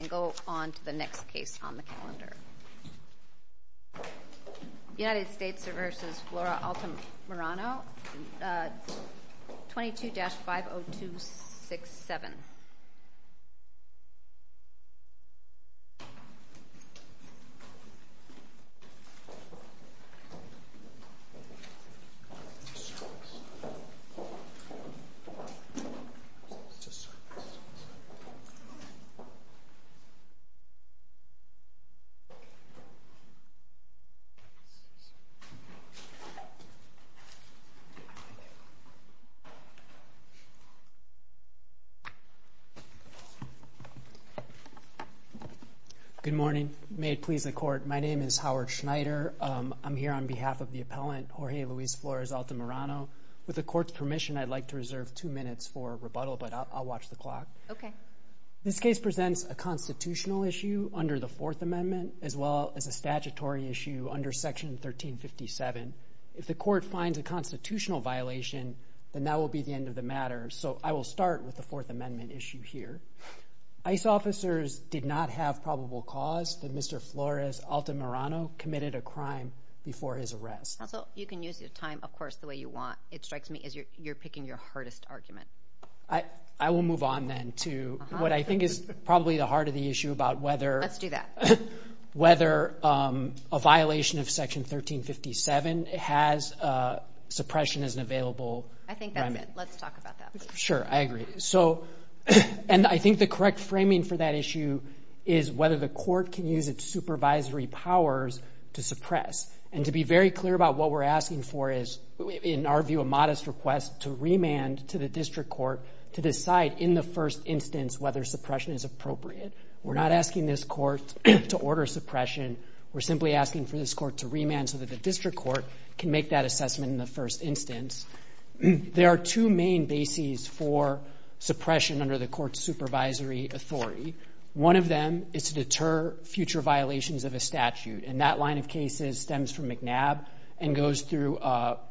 and go on to the next case on the calendar. United States v. Flores-Altamirano, 22-50267 Good morning. May it please the Court, my name is Howard Schneider. I'm here on behalf of the appellant, Jorge Luis Flores-Altamirano. With the Court's permission, I'd like to reserve two minutes for rebuttal, but I'll watch the clock. Okay. This case presents a constitutional issue under the Fourth Amendment, as well as a statutory issue under Section 1357. If the Court finds a constitutional violation, then that will be the end of the matter, so I will start with the Fourth Amendment issue here. ICE officers did not have probable cause that Mr. Flores-Altamirano committed a crime before his arrest. Counsel, you can use your time, of course, the way you want. It strikes me as you're referring to what I think is probably the heart of the issue about whether a violation of Section 1357 has suppression as an available crime. I think that's it. Let's talk about that. Sure, I agree. And I think the correct framing for that issue is whether the Court can use its supervisory powers to suppress. And to be very clear about what we're asking for is, in our view, a modest request to remand to the District Court to decide in the first instance whether suppression is appropriate. We're not asking this Court to order suppression. We're simply asking for this Court to remand so that the District Court can make that assessment in the first instance. There are two main bases for suppression under the Court's supervisory authority. One of them is to deter future violations of a statute, and that line of cases stems from McNabb and goes through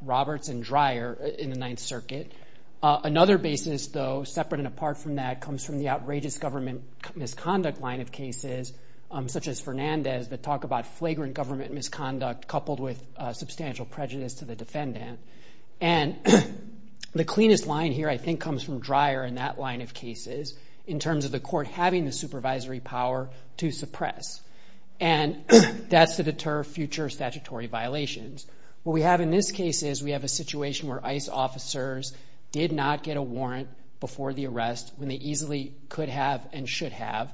Roberts and Dreyer in the Ninth Circuit. Another basis, though, separate and apart from that, comes from the outrageous government misconduct line of cases, such as Fernandez, that talk about flagrant government misconduct coupled with substantial prejudice to the defendant. And the cleanest line here, I think, comes from Dreyer in that line of cases, in terms of the Court having the supervisory power to suppress. And that's to deter future statutory violations. What we have in this case is we have a situation where ICE officers did not get a warrant before the arrest when they easily could have and should have.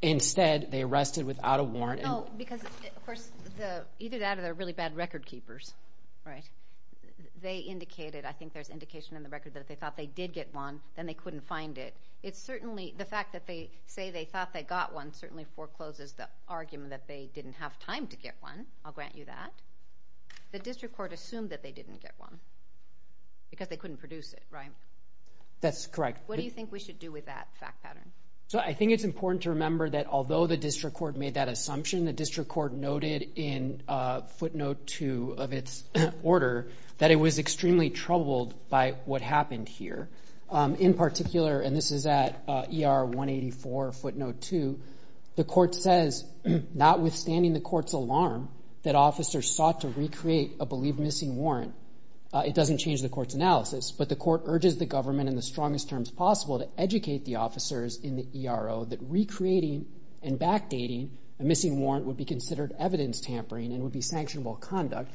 Instead, they arrested without a warrant. No, because, of course, either that or they're really bad record keepers, right? They indicated, I think there's indication in the record that if they thought they did get one, then they couldn't find it. The fact that they say they thought they got one certainly forecloses the argument that they didn't have time to get one. I'll grant you that. The District Court assumed that they didn't get one because they couldn't produce it, right? That's correct. What do you think we should do with that fact pattern? So I think it's important to remember that although the District Court made that assumption, the District Court noted in Footnote 2 of its order that it was extremely troubled by what happened here. In particular, and this is at ER 184, Footnote 2, the court says, notwithstanding the court's alarm that officers sought to recreate a believed missing warrant, it doesn't change the court's analysis, but the court urges the government in the strongest terms possible to educate the officers in the ERO that recreating and backdating a missing warrant would be considered evidence tampering and would be sanctionable conduct.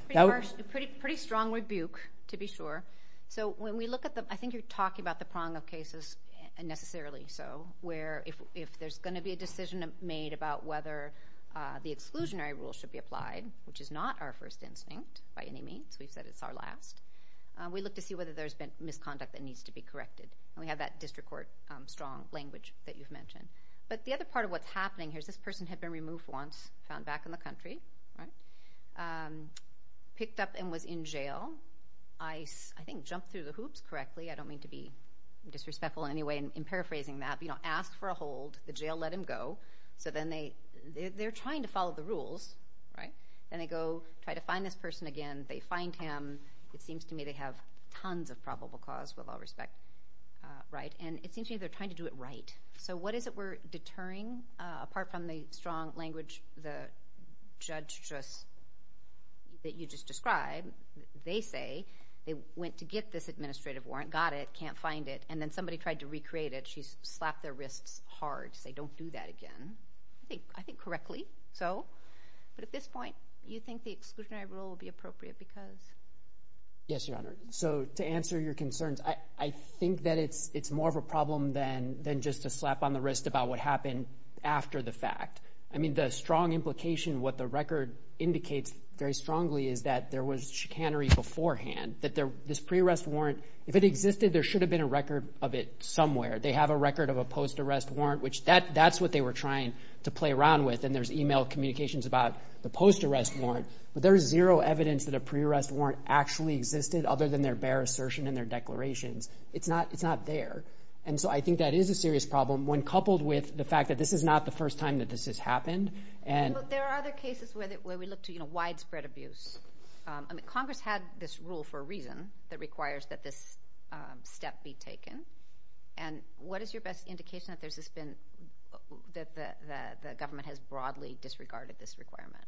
Pretty strong rebuke, to be sure. So when we look at the, I think you're talking about the prong of cases, and necessarily so, where if there's going to be a decision made about whether the exclusionary rule should be applied, which is not our first instinct by any means, we've said it's our last, we look to see whether there's been misconduct that needs to be corrected. And we have that District Court strong language that you've mentioned. But the other part of what's picked up and was in jail, I think jumped through the hoops correctly, I don't mean to be disrespectful in any way in paraphrasing that, but ask for a hold, the jail let him go, so then they're trying to follow the rules, right? Then they go try to find this person again, they find him, it seems to me they have tons of probable cause with all respect, right? And it seems to me they're trying to do it right. So what is it we're deterring, apart from the strong language the judge just, that you just described, they say they went to get this administrative warrant, got it, can't find it, and then somebody tried to recreate it, she slapped their wrists hard to say don't do that again. I think correctly, so. But at this point, you think the exclusionary rule will be appropriate because? Yes, Your Honor. So to answer your concerns, I think that it's it's more of a problem than just a slap on the wrist about what happened after the fact. I mean, the strong implication, what the record indicates very strongly is that there was chicanery beforehand, that this pre-arrest warrant, if it existed, there should have been a record of it somewhere. They have a record of a post-arrest warrant, which that's what they were trying to play around with. And there's email communications about the post-arrest warrant, but there's zero evidence that a pre-arrest warrant actually existed other than their bare assertion and their declarations. It's not there. And so I think that is a serious problem when coupled with the fact that this is not the first time that this has happened. And there are other cases where we look to, you know, widespread abuse. I mean, Congress had this rule for a reason that requires that this step be taken. And what is your best indication that there's this been that the government has broadly disregarded this requirement?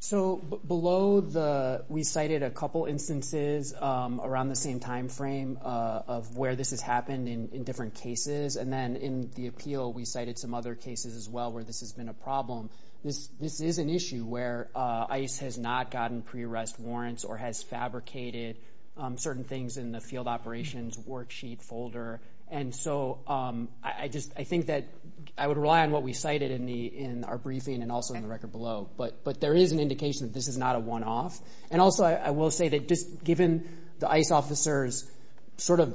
So below the, we cited a couple instances around the same time frame of where this has happened in different cases. And then in the appeal, we cited some other cases as well where this has been a problem. This is an issue where ICE has not gotten pre-arrest warrants or has fabricated certain things in the field operations worksheet folder. And so I just, I think that I would rely on what we cited in our briefing and also in the record below. But there is an indication that this is not a one-off. And also I will say that just given the ICE officers sort of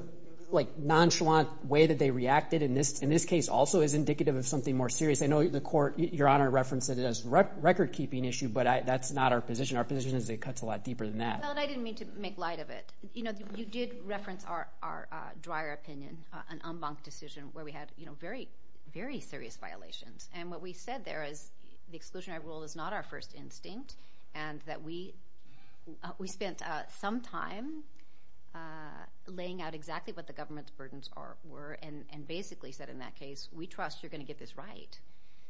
like nonchalant way that they reacted in this, in this case also is indicative of something more serious. I know the court, Your Honor referenced it as record keeping issue, but that's not our position. Our position is it cuts a lot deeper than that. I didn't mean to make light of it. You know, you did reference our, our dryer opinion, an en banc decision where we had, you know, very, very serious violations. And what we said there is the exclusionary rule is not our first instinct and that we, we spent some time laying out exactly what the government's burdens were and basically said in that case, we trust you're going to get this right.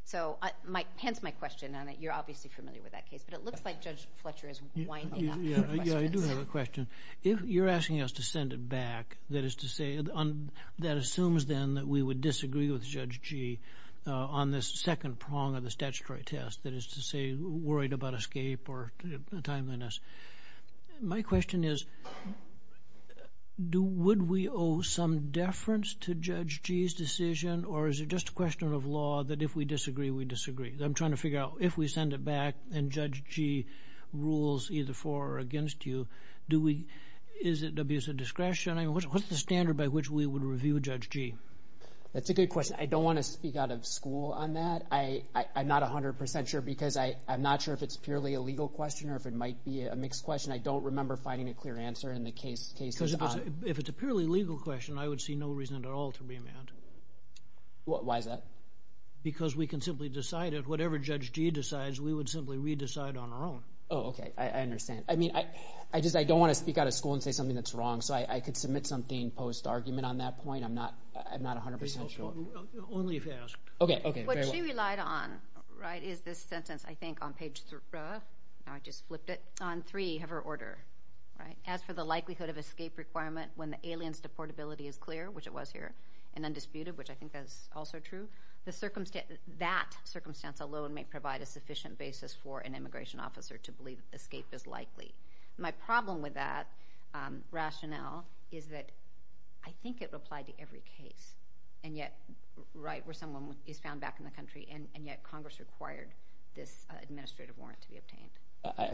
So my, hence my question on it, you're obviously familiar with that case, but it looks like Judge Fletcher is winding up. Yeah, I do have a question. If you're asking us to send it back, that is to say, that assumes then that we would disagree with Judge Gee on this second prong of the statutory test, that is to say worried about escape or timeliness. My question is, do, would we owe some deference to Judge Gee's decision? Or is it just a question of law that if we disagree, we disagree? I'm trying to figure out if we send it back and Judge Gee rules either for or against you, do we, is it abuse of discretion? I mean, what's the standard by which we would review Judge Gee? That's a good question. I don't want to speak out of school on that. I, I'm not a hundred percent sure because I, I'm not sure if it's purely a legal question or if it might be a mixed question. I don't remember finding a clear answer in the case. Because if it's a purely legal question, I would see no reason at all to be mad. Why is that? Because we can simply decide it. Whatever Judge Gee decides, we would simply re-decide on our own. Oh, okay. I understand. I mean, I, I just, I don't want to speak out of school and say something that's wrong. So I, I could submit something post-argument on that point. I'm not, I'm not a hundred percent sure. Only if asked. Okay, okay. What she relied on, right, is this sentence, I think on page three, now I just flipped it, on three of her order, right? As for the likelihood of escape requirement when the alien's deportability is clear, which it was here, and undisputed, which I think that's also true, the circumstance, that circumstance alone may provide a sufficient basis for an immigration officer to believe escape is likely. My problem with that rationale is that I think it would apply to every case. And yet, right, where someone is found back in the country, and yet Congress required this administrative warrant to be obtained.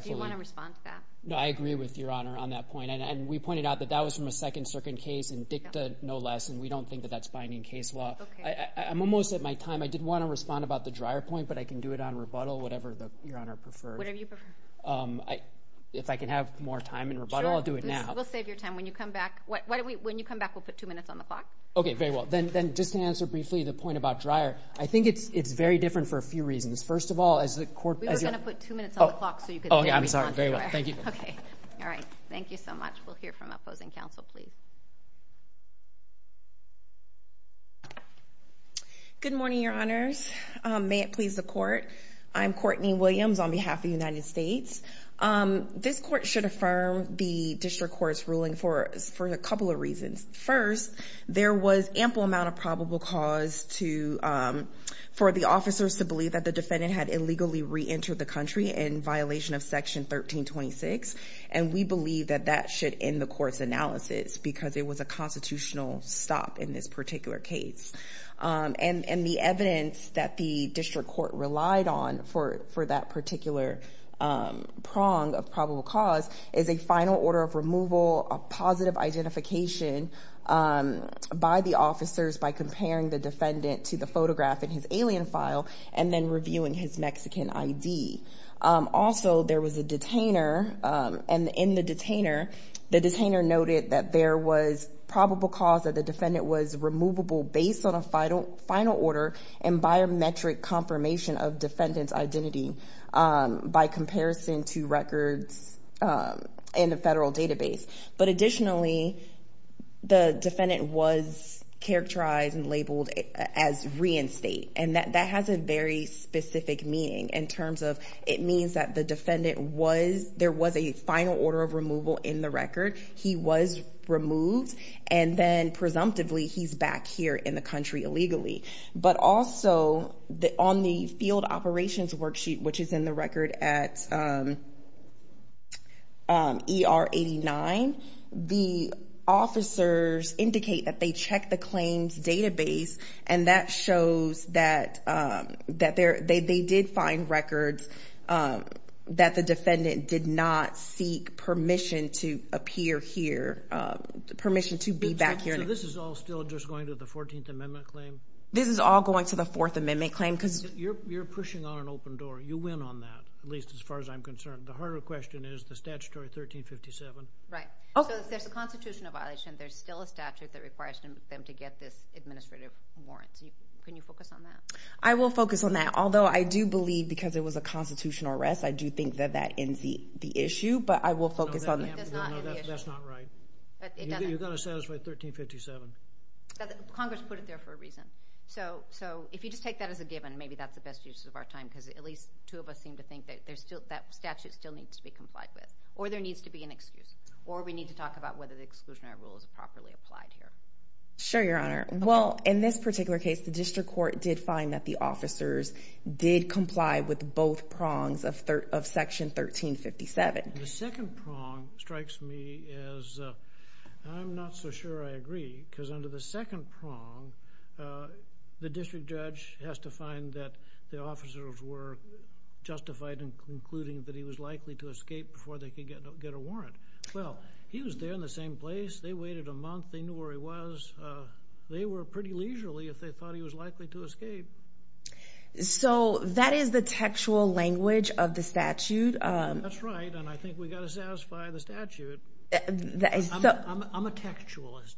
Do you want to respond to that? No, I agree with Your Honor on that point. And, and we pointed out that that was from a second-circuit case in DICTA, no less, and we don't think that that's binding case law. I, I'm almost at my time. I did want to respond about the Dreyer point, but I can do it on rebuttal, whatever the, Your Honor preferred. Whatever you prefer. I, if I can have more time in rebuttal, I'll do it now. Sure. We'll save your time. When you come back, what, why don't we, when you come back, we'll put two minutes on the clock. Okay, very well. Then, then just to answer briefly the point about Dreyer, I think it's, it's very different for a few reasons. First of all, as the court, as you're... We were going to put two minutes on the clock so you could... Oh, yeah, I'm sorry. Very well. Thank you. Okay. All right. Thank you so much. We'll hear from opposing counsel, please. Good morning, Your Honors. May it please the court. I'm Courtney Williams on behalf of the United States. This court should affirm the district court's ruling for, for a couple of reasons. First, there was ample amount of probable cause to, for the officers to believe that the defendant had illegally reentered the country in violation of section 1326. And we believe that should end the court's analysis because it was a constitutional stop in this particular case. And, and the evidence that the district court relied on for, for that particular prong of probable cause is a final order of removal, a positive identification by the officers by comparing the defendant to the photograph in his alien file, and then reviewing his Mexican ID. Also, there was a detainer, and in the detainer, the detainer noted that there was probable cause that the defendant was removable based on a final, final order and biometric confirmation of defendant's identity by comparison to records in a federal database. But additionally, the defendant was characterized and labeled as reinstate. And that, that has a very specific meaning in terms of, it means that the defendant was, there was a final order of removal in the record. He was removed. And then presumptively he's back here in the country illegally. But also on the field operations worksheet, which is in the record at ER 89, the officers indicate that they check the claims database. And that shows that, that they did find records that the defendant did not seek permission to appear here, permission to be back here. So this is all still just going to the 14th Amendment claim? This is all going to the 4th Amendment claim. Because you're, you're pushing on an open door. You win on that, at least as far as I'm concerned. The harder question is the statutory 1357. Right. So if there's a constitutional violation, there's still a statute that requires them to get this administrative warrant. Can you focus on that? I will focus on that. Although I do believe because it was a constitutional arrest, I do think that that ends the, the issue. But I will focus on that. That's not right. You've got to satisfy 1357. Congress put it there for a reason. So, so if you just take that as a given, maybe that's the best use of our time. Because at least two of us seem to think that there's still, that statute still needs to be complied with. Or there needs to be an excuse. Or we need to talk about whether the exclusionary rule is properly applied here. Sure, Your Honor. Well, in this particular case, the district court did find that the officers did comply with both prongs of third, of section 1357. The second prong strikes me as, I'm not so sure I agree. Because under the second prong, the district judge has to find that the officers were justified in concluding that he was likely to escape before they could get a warrant. Well, he was there in the same place. They waited a month. They knew where he was. They were pretty leisurely if they thought he was likely to escape. So that is the textual language of the statute. That's right. And I think we've got to satisfy the statute. I'm a textualist.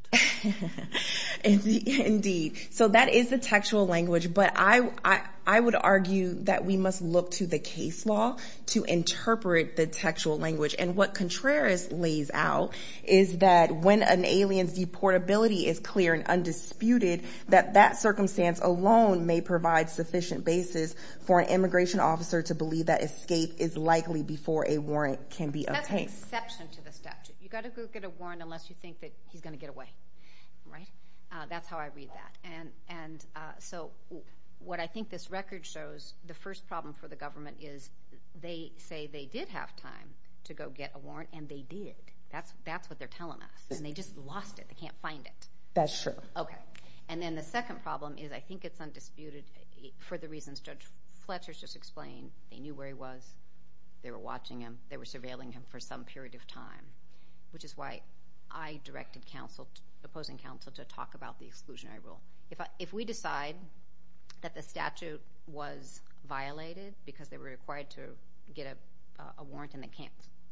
Indeed. So that is the textual language. But I would argue that we must look to the case law to interpret the textual language. And what Contreras lays out is that when an alien's deportability is clear and undisputed, that that circumstance alone may provide sufficient basis for an immigration officer to believe that escape is likely before a warrant can be obtained. That's an exception to the statute. You've got to go get a warrant unless you think that he's going to get away. Right? That's how I read that. And so what I think this record shows, the first problem for the government is they say they did have time to go get a warrant and they did. That's what they're telling us. And they just lost it. They can't find it. That's true. Okay. And then the second problem is I think it's undisputed for the reasons Judge Fletcher just explained. They knew where he was. They were watching him. They were surveilling him for some period of time. Which is why I directed counsel, opposing counsel, to talk about the exclusionary rule. If we decide that the statute was violated because they were required to get a warrant and they can't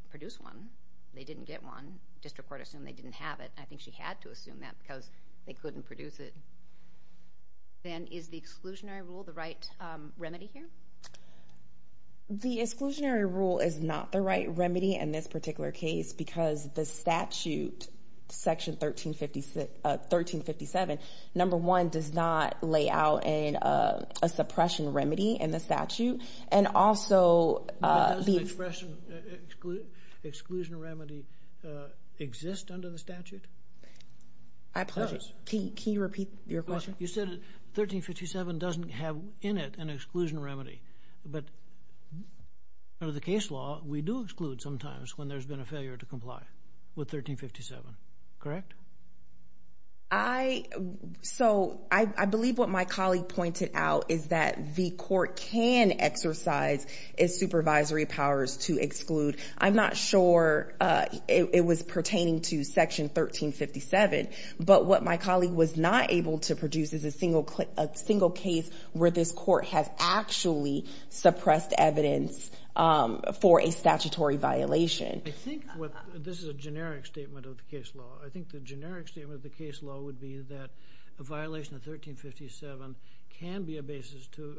produce one, they didn't get one, district court assumed they didn't have it. I think she had to assume that because they couldn't produce it. Then is the exclusionary rule the remedy here? The exclusionary rule is not the right remedy in this particular case because the statute, section 1357, number one, does not lay out a suppression remedy in the statute. And also... Does the exclusion remedy exist under the statute? It does. Can you repeat your question? You said 1357 doesn't have in it an exclusion remedy. But under the case law, we do exclude sometimes when there's been a failure to comply with 1357. Correct? I believe what my colleague pointed out is that the court can exercise supervisory powers to exclude. I'm not sure it was pertaining to section 1357, but what my colleague was not able to produce is a single case where this court has actually suppressed evidence for a statutory violation. This is a generic statement of the case law. I think the generic statement of the case law would be that a violation of 1357 can be a basis to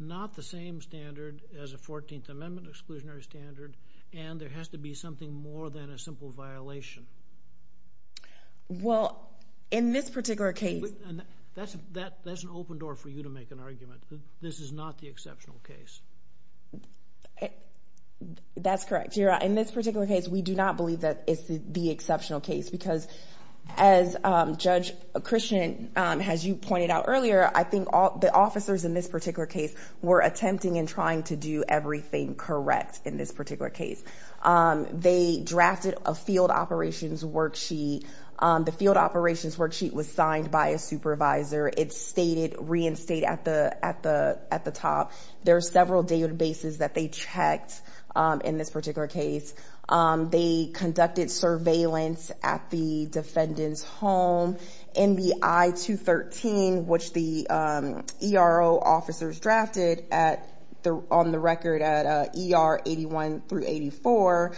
not the same standard as a 14th Amendment exclusionary standard, and there has to be something more than a simple violation. Well, in this particular case... That's an open door for you to make an argument. This is not the exceptional case. That's correct, Your Honor. In this particular case, we do not believe that it's the exceptional case because as Judge Christian, as you pointed out earlier, I think all the officers in this case were attempting and trying to do everything correct in this particular case. They drafted a field operations worksheet. The field operations worksheet was signed by a supervisor. It's reinstated at the top. There are several databases that they checked in this particular case. They conducted surveillance at the defendant's home. In the I-213, which the ERO officers drafted on the record at ER 81 through 84,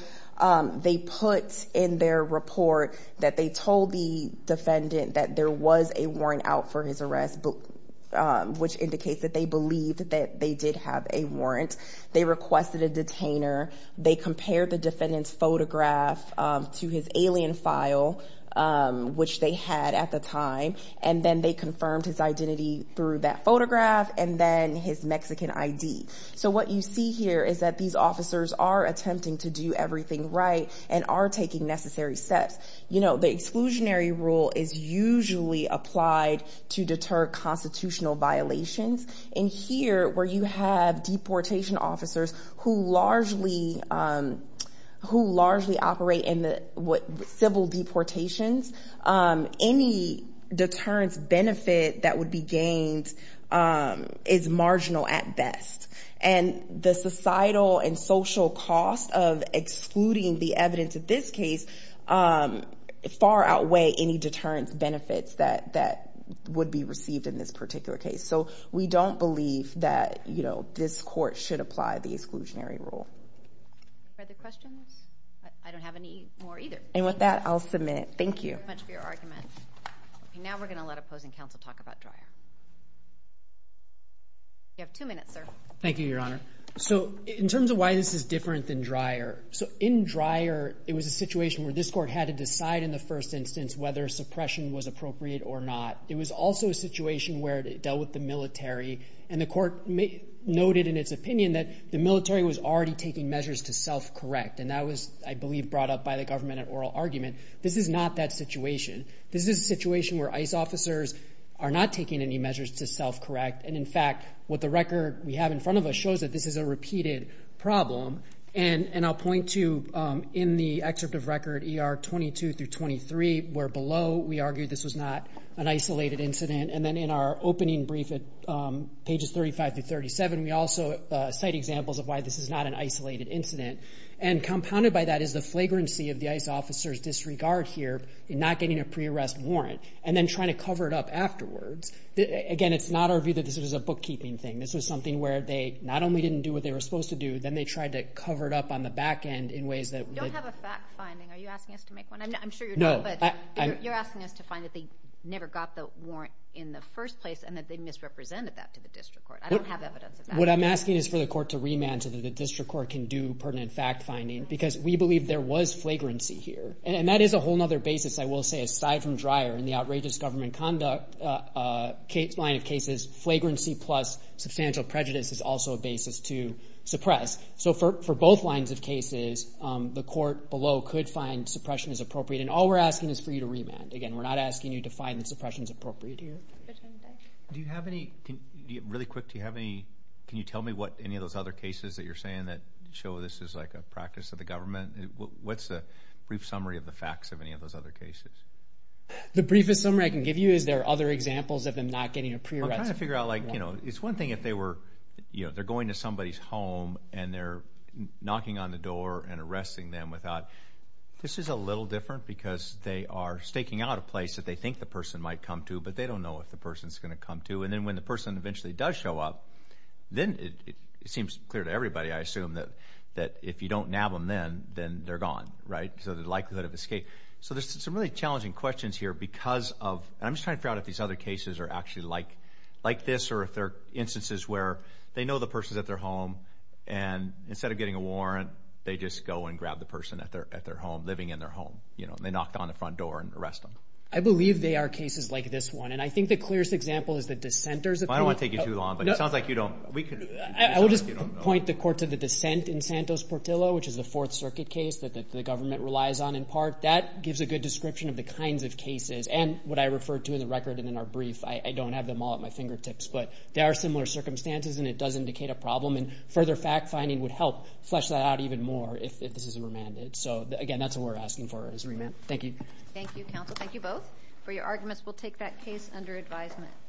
they put in their report that they told the defendant that there was a warrant out for his arrest, which indicates that they believed that they did have a warrant. They requested a detainer. They compared the defendant's photograph to his alien file, which they had at the time, and then they confirmed his identity through that photograph and then his Mexican ID. So what you see here is that these officers are attempting to do everything right and are taking necessary steps. The exclusionary rule is usually applied to deter constitutional violations. Here, where you have deportation officers who largely operate in the civil deportations, any deterrence benefit that would be gained is marginal at best. The societal and social cost of excluding the evidence of this case far outweigh any deterrence benefits that would be received in this particular case. So we don't believe that this court should apply the exclusionary rule. Are there questions? I don't have any more either. And with that, I'll submit. Thank you. Thank you very much for your argument. Now we're going to let opposing counsel talk about Dreyer. You have two minutes, sir. Thank you, Your Honor. So in terms of why this is different than Dreyer, so in Dreyer, it was a situation where this court had to decide in the first instance whether suppression was appropriate or not. It was also a situation where it dealt with the military. And the court noted in its opinion that the military was already taking measures to self-correct. And that was, I believe, brought up by the government at oral argument. This is not that situation. This is a situation where ICE officers are not taking any measures to self-correct. And in fact, what the record we have in front of us shows that this is a repeated problem. And I'll point to in the excerpt of record ER 22 through 23, where below we argue this was not an isolated incident. And then in our opening brief at pages 35 through 37, we also cite examples of why this is not an isolated incident. And compounded by that is the flagrancy of the ICE officers' disregard here in not getting a pre-arrest warrant and then trying to cover it up afterwards. Again, it's not our view that this was a bookkeeping thing. This was something where they not only didn't do what they were supposed to do, then they tried to cover it up on the back end in ways that... You don't have a fact finding. Are you asking us to make one? I'm sure you're not, but you're asking us to find that they never got the warrant in the first place and that they misrepresented that to the district court. I don't have evidence of that. What I'm asking is for the court to remand to the district court can do pertinent fact finding, because we believe there was flagrancy here. And that is a whole other basis, I will say, aside from Dreyer and the outrageous government conduct line of cases. Flagrancy plus substantial prejudice is also a basis to suppress. So for both lines of cases, the court below could find suppression as appropriate. And all we're asking is for you to remand. Again, we're not asking you to find that suppression is appropriate here. Do you have any... Really quick, do you have any... Can you tell me what any of those other cases that you're saying that show this is like a practice of the government? What's the brief summary of the facts of any of those other cases? The briefest summary I can give you is there are other examples of them not getting a pre-arrest figure out like, you know, it's one thing if they were, you know, they're going to somebody's home and they're knocking on the door and arresting them without... This is a little different because they are staking out a place that they think the person might come to, but they don't know if the person's going to come to. And then when the person eventually does show up, then it seems clear to everybody, I assume, that if you don't nab them then, then they're gone, right? So the likelihood of escape. So there's some really challenging questions here because of... I'm just trying to figure out if these other cases are actually like this or if they're instances where they know the person's at their home and instead of getting a warrant, they just go and grab the person at their home, living in their home, you know, and they knocked on the front door and arrest them. I believe they are cases like this one. And I think the clearest example is the dissenters... I don't want to take you too long, but it sounds like you don't... I will just point the court to the dissent in Santos Portillo, which is the Fourth Circuit case that the government relies on in part. That gives a good description of the kinds of cases. And what I referred to in the record and in our brief, I don't have them all at my fingertips, but there are similar circumstances and it does indicate a problem. And further fact-finding would help flesh that out even more if this isn't remanded. So again, that's what we're asking for is remand. Thank you. Thank you, counsel. Thank you both for your arguments. We'll take that case under advisement.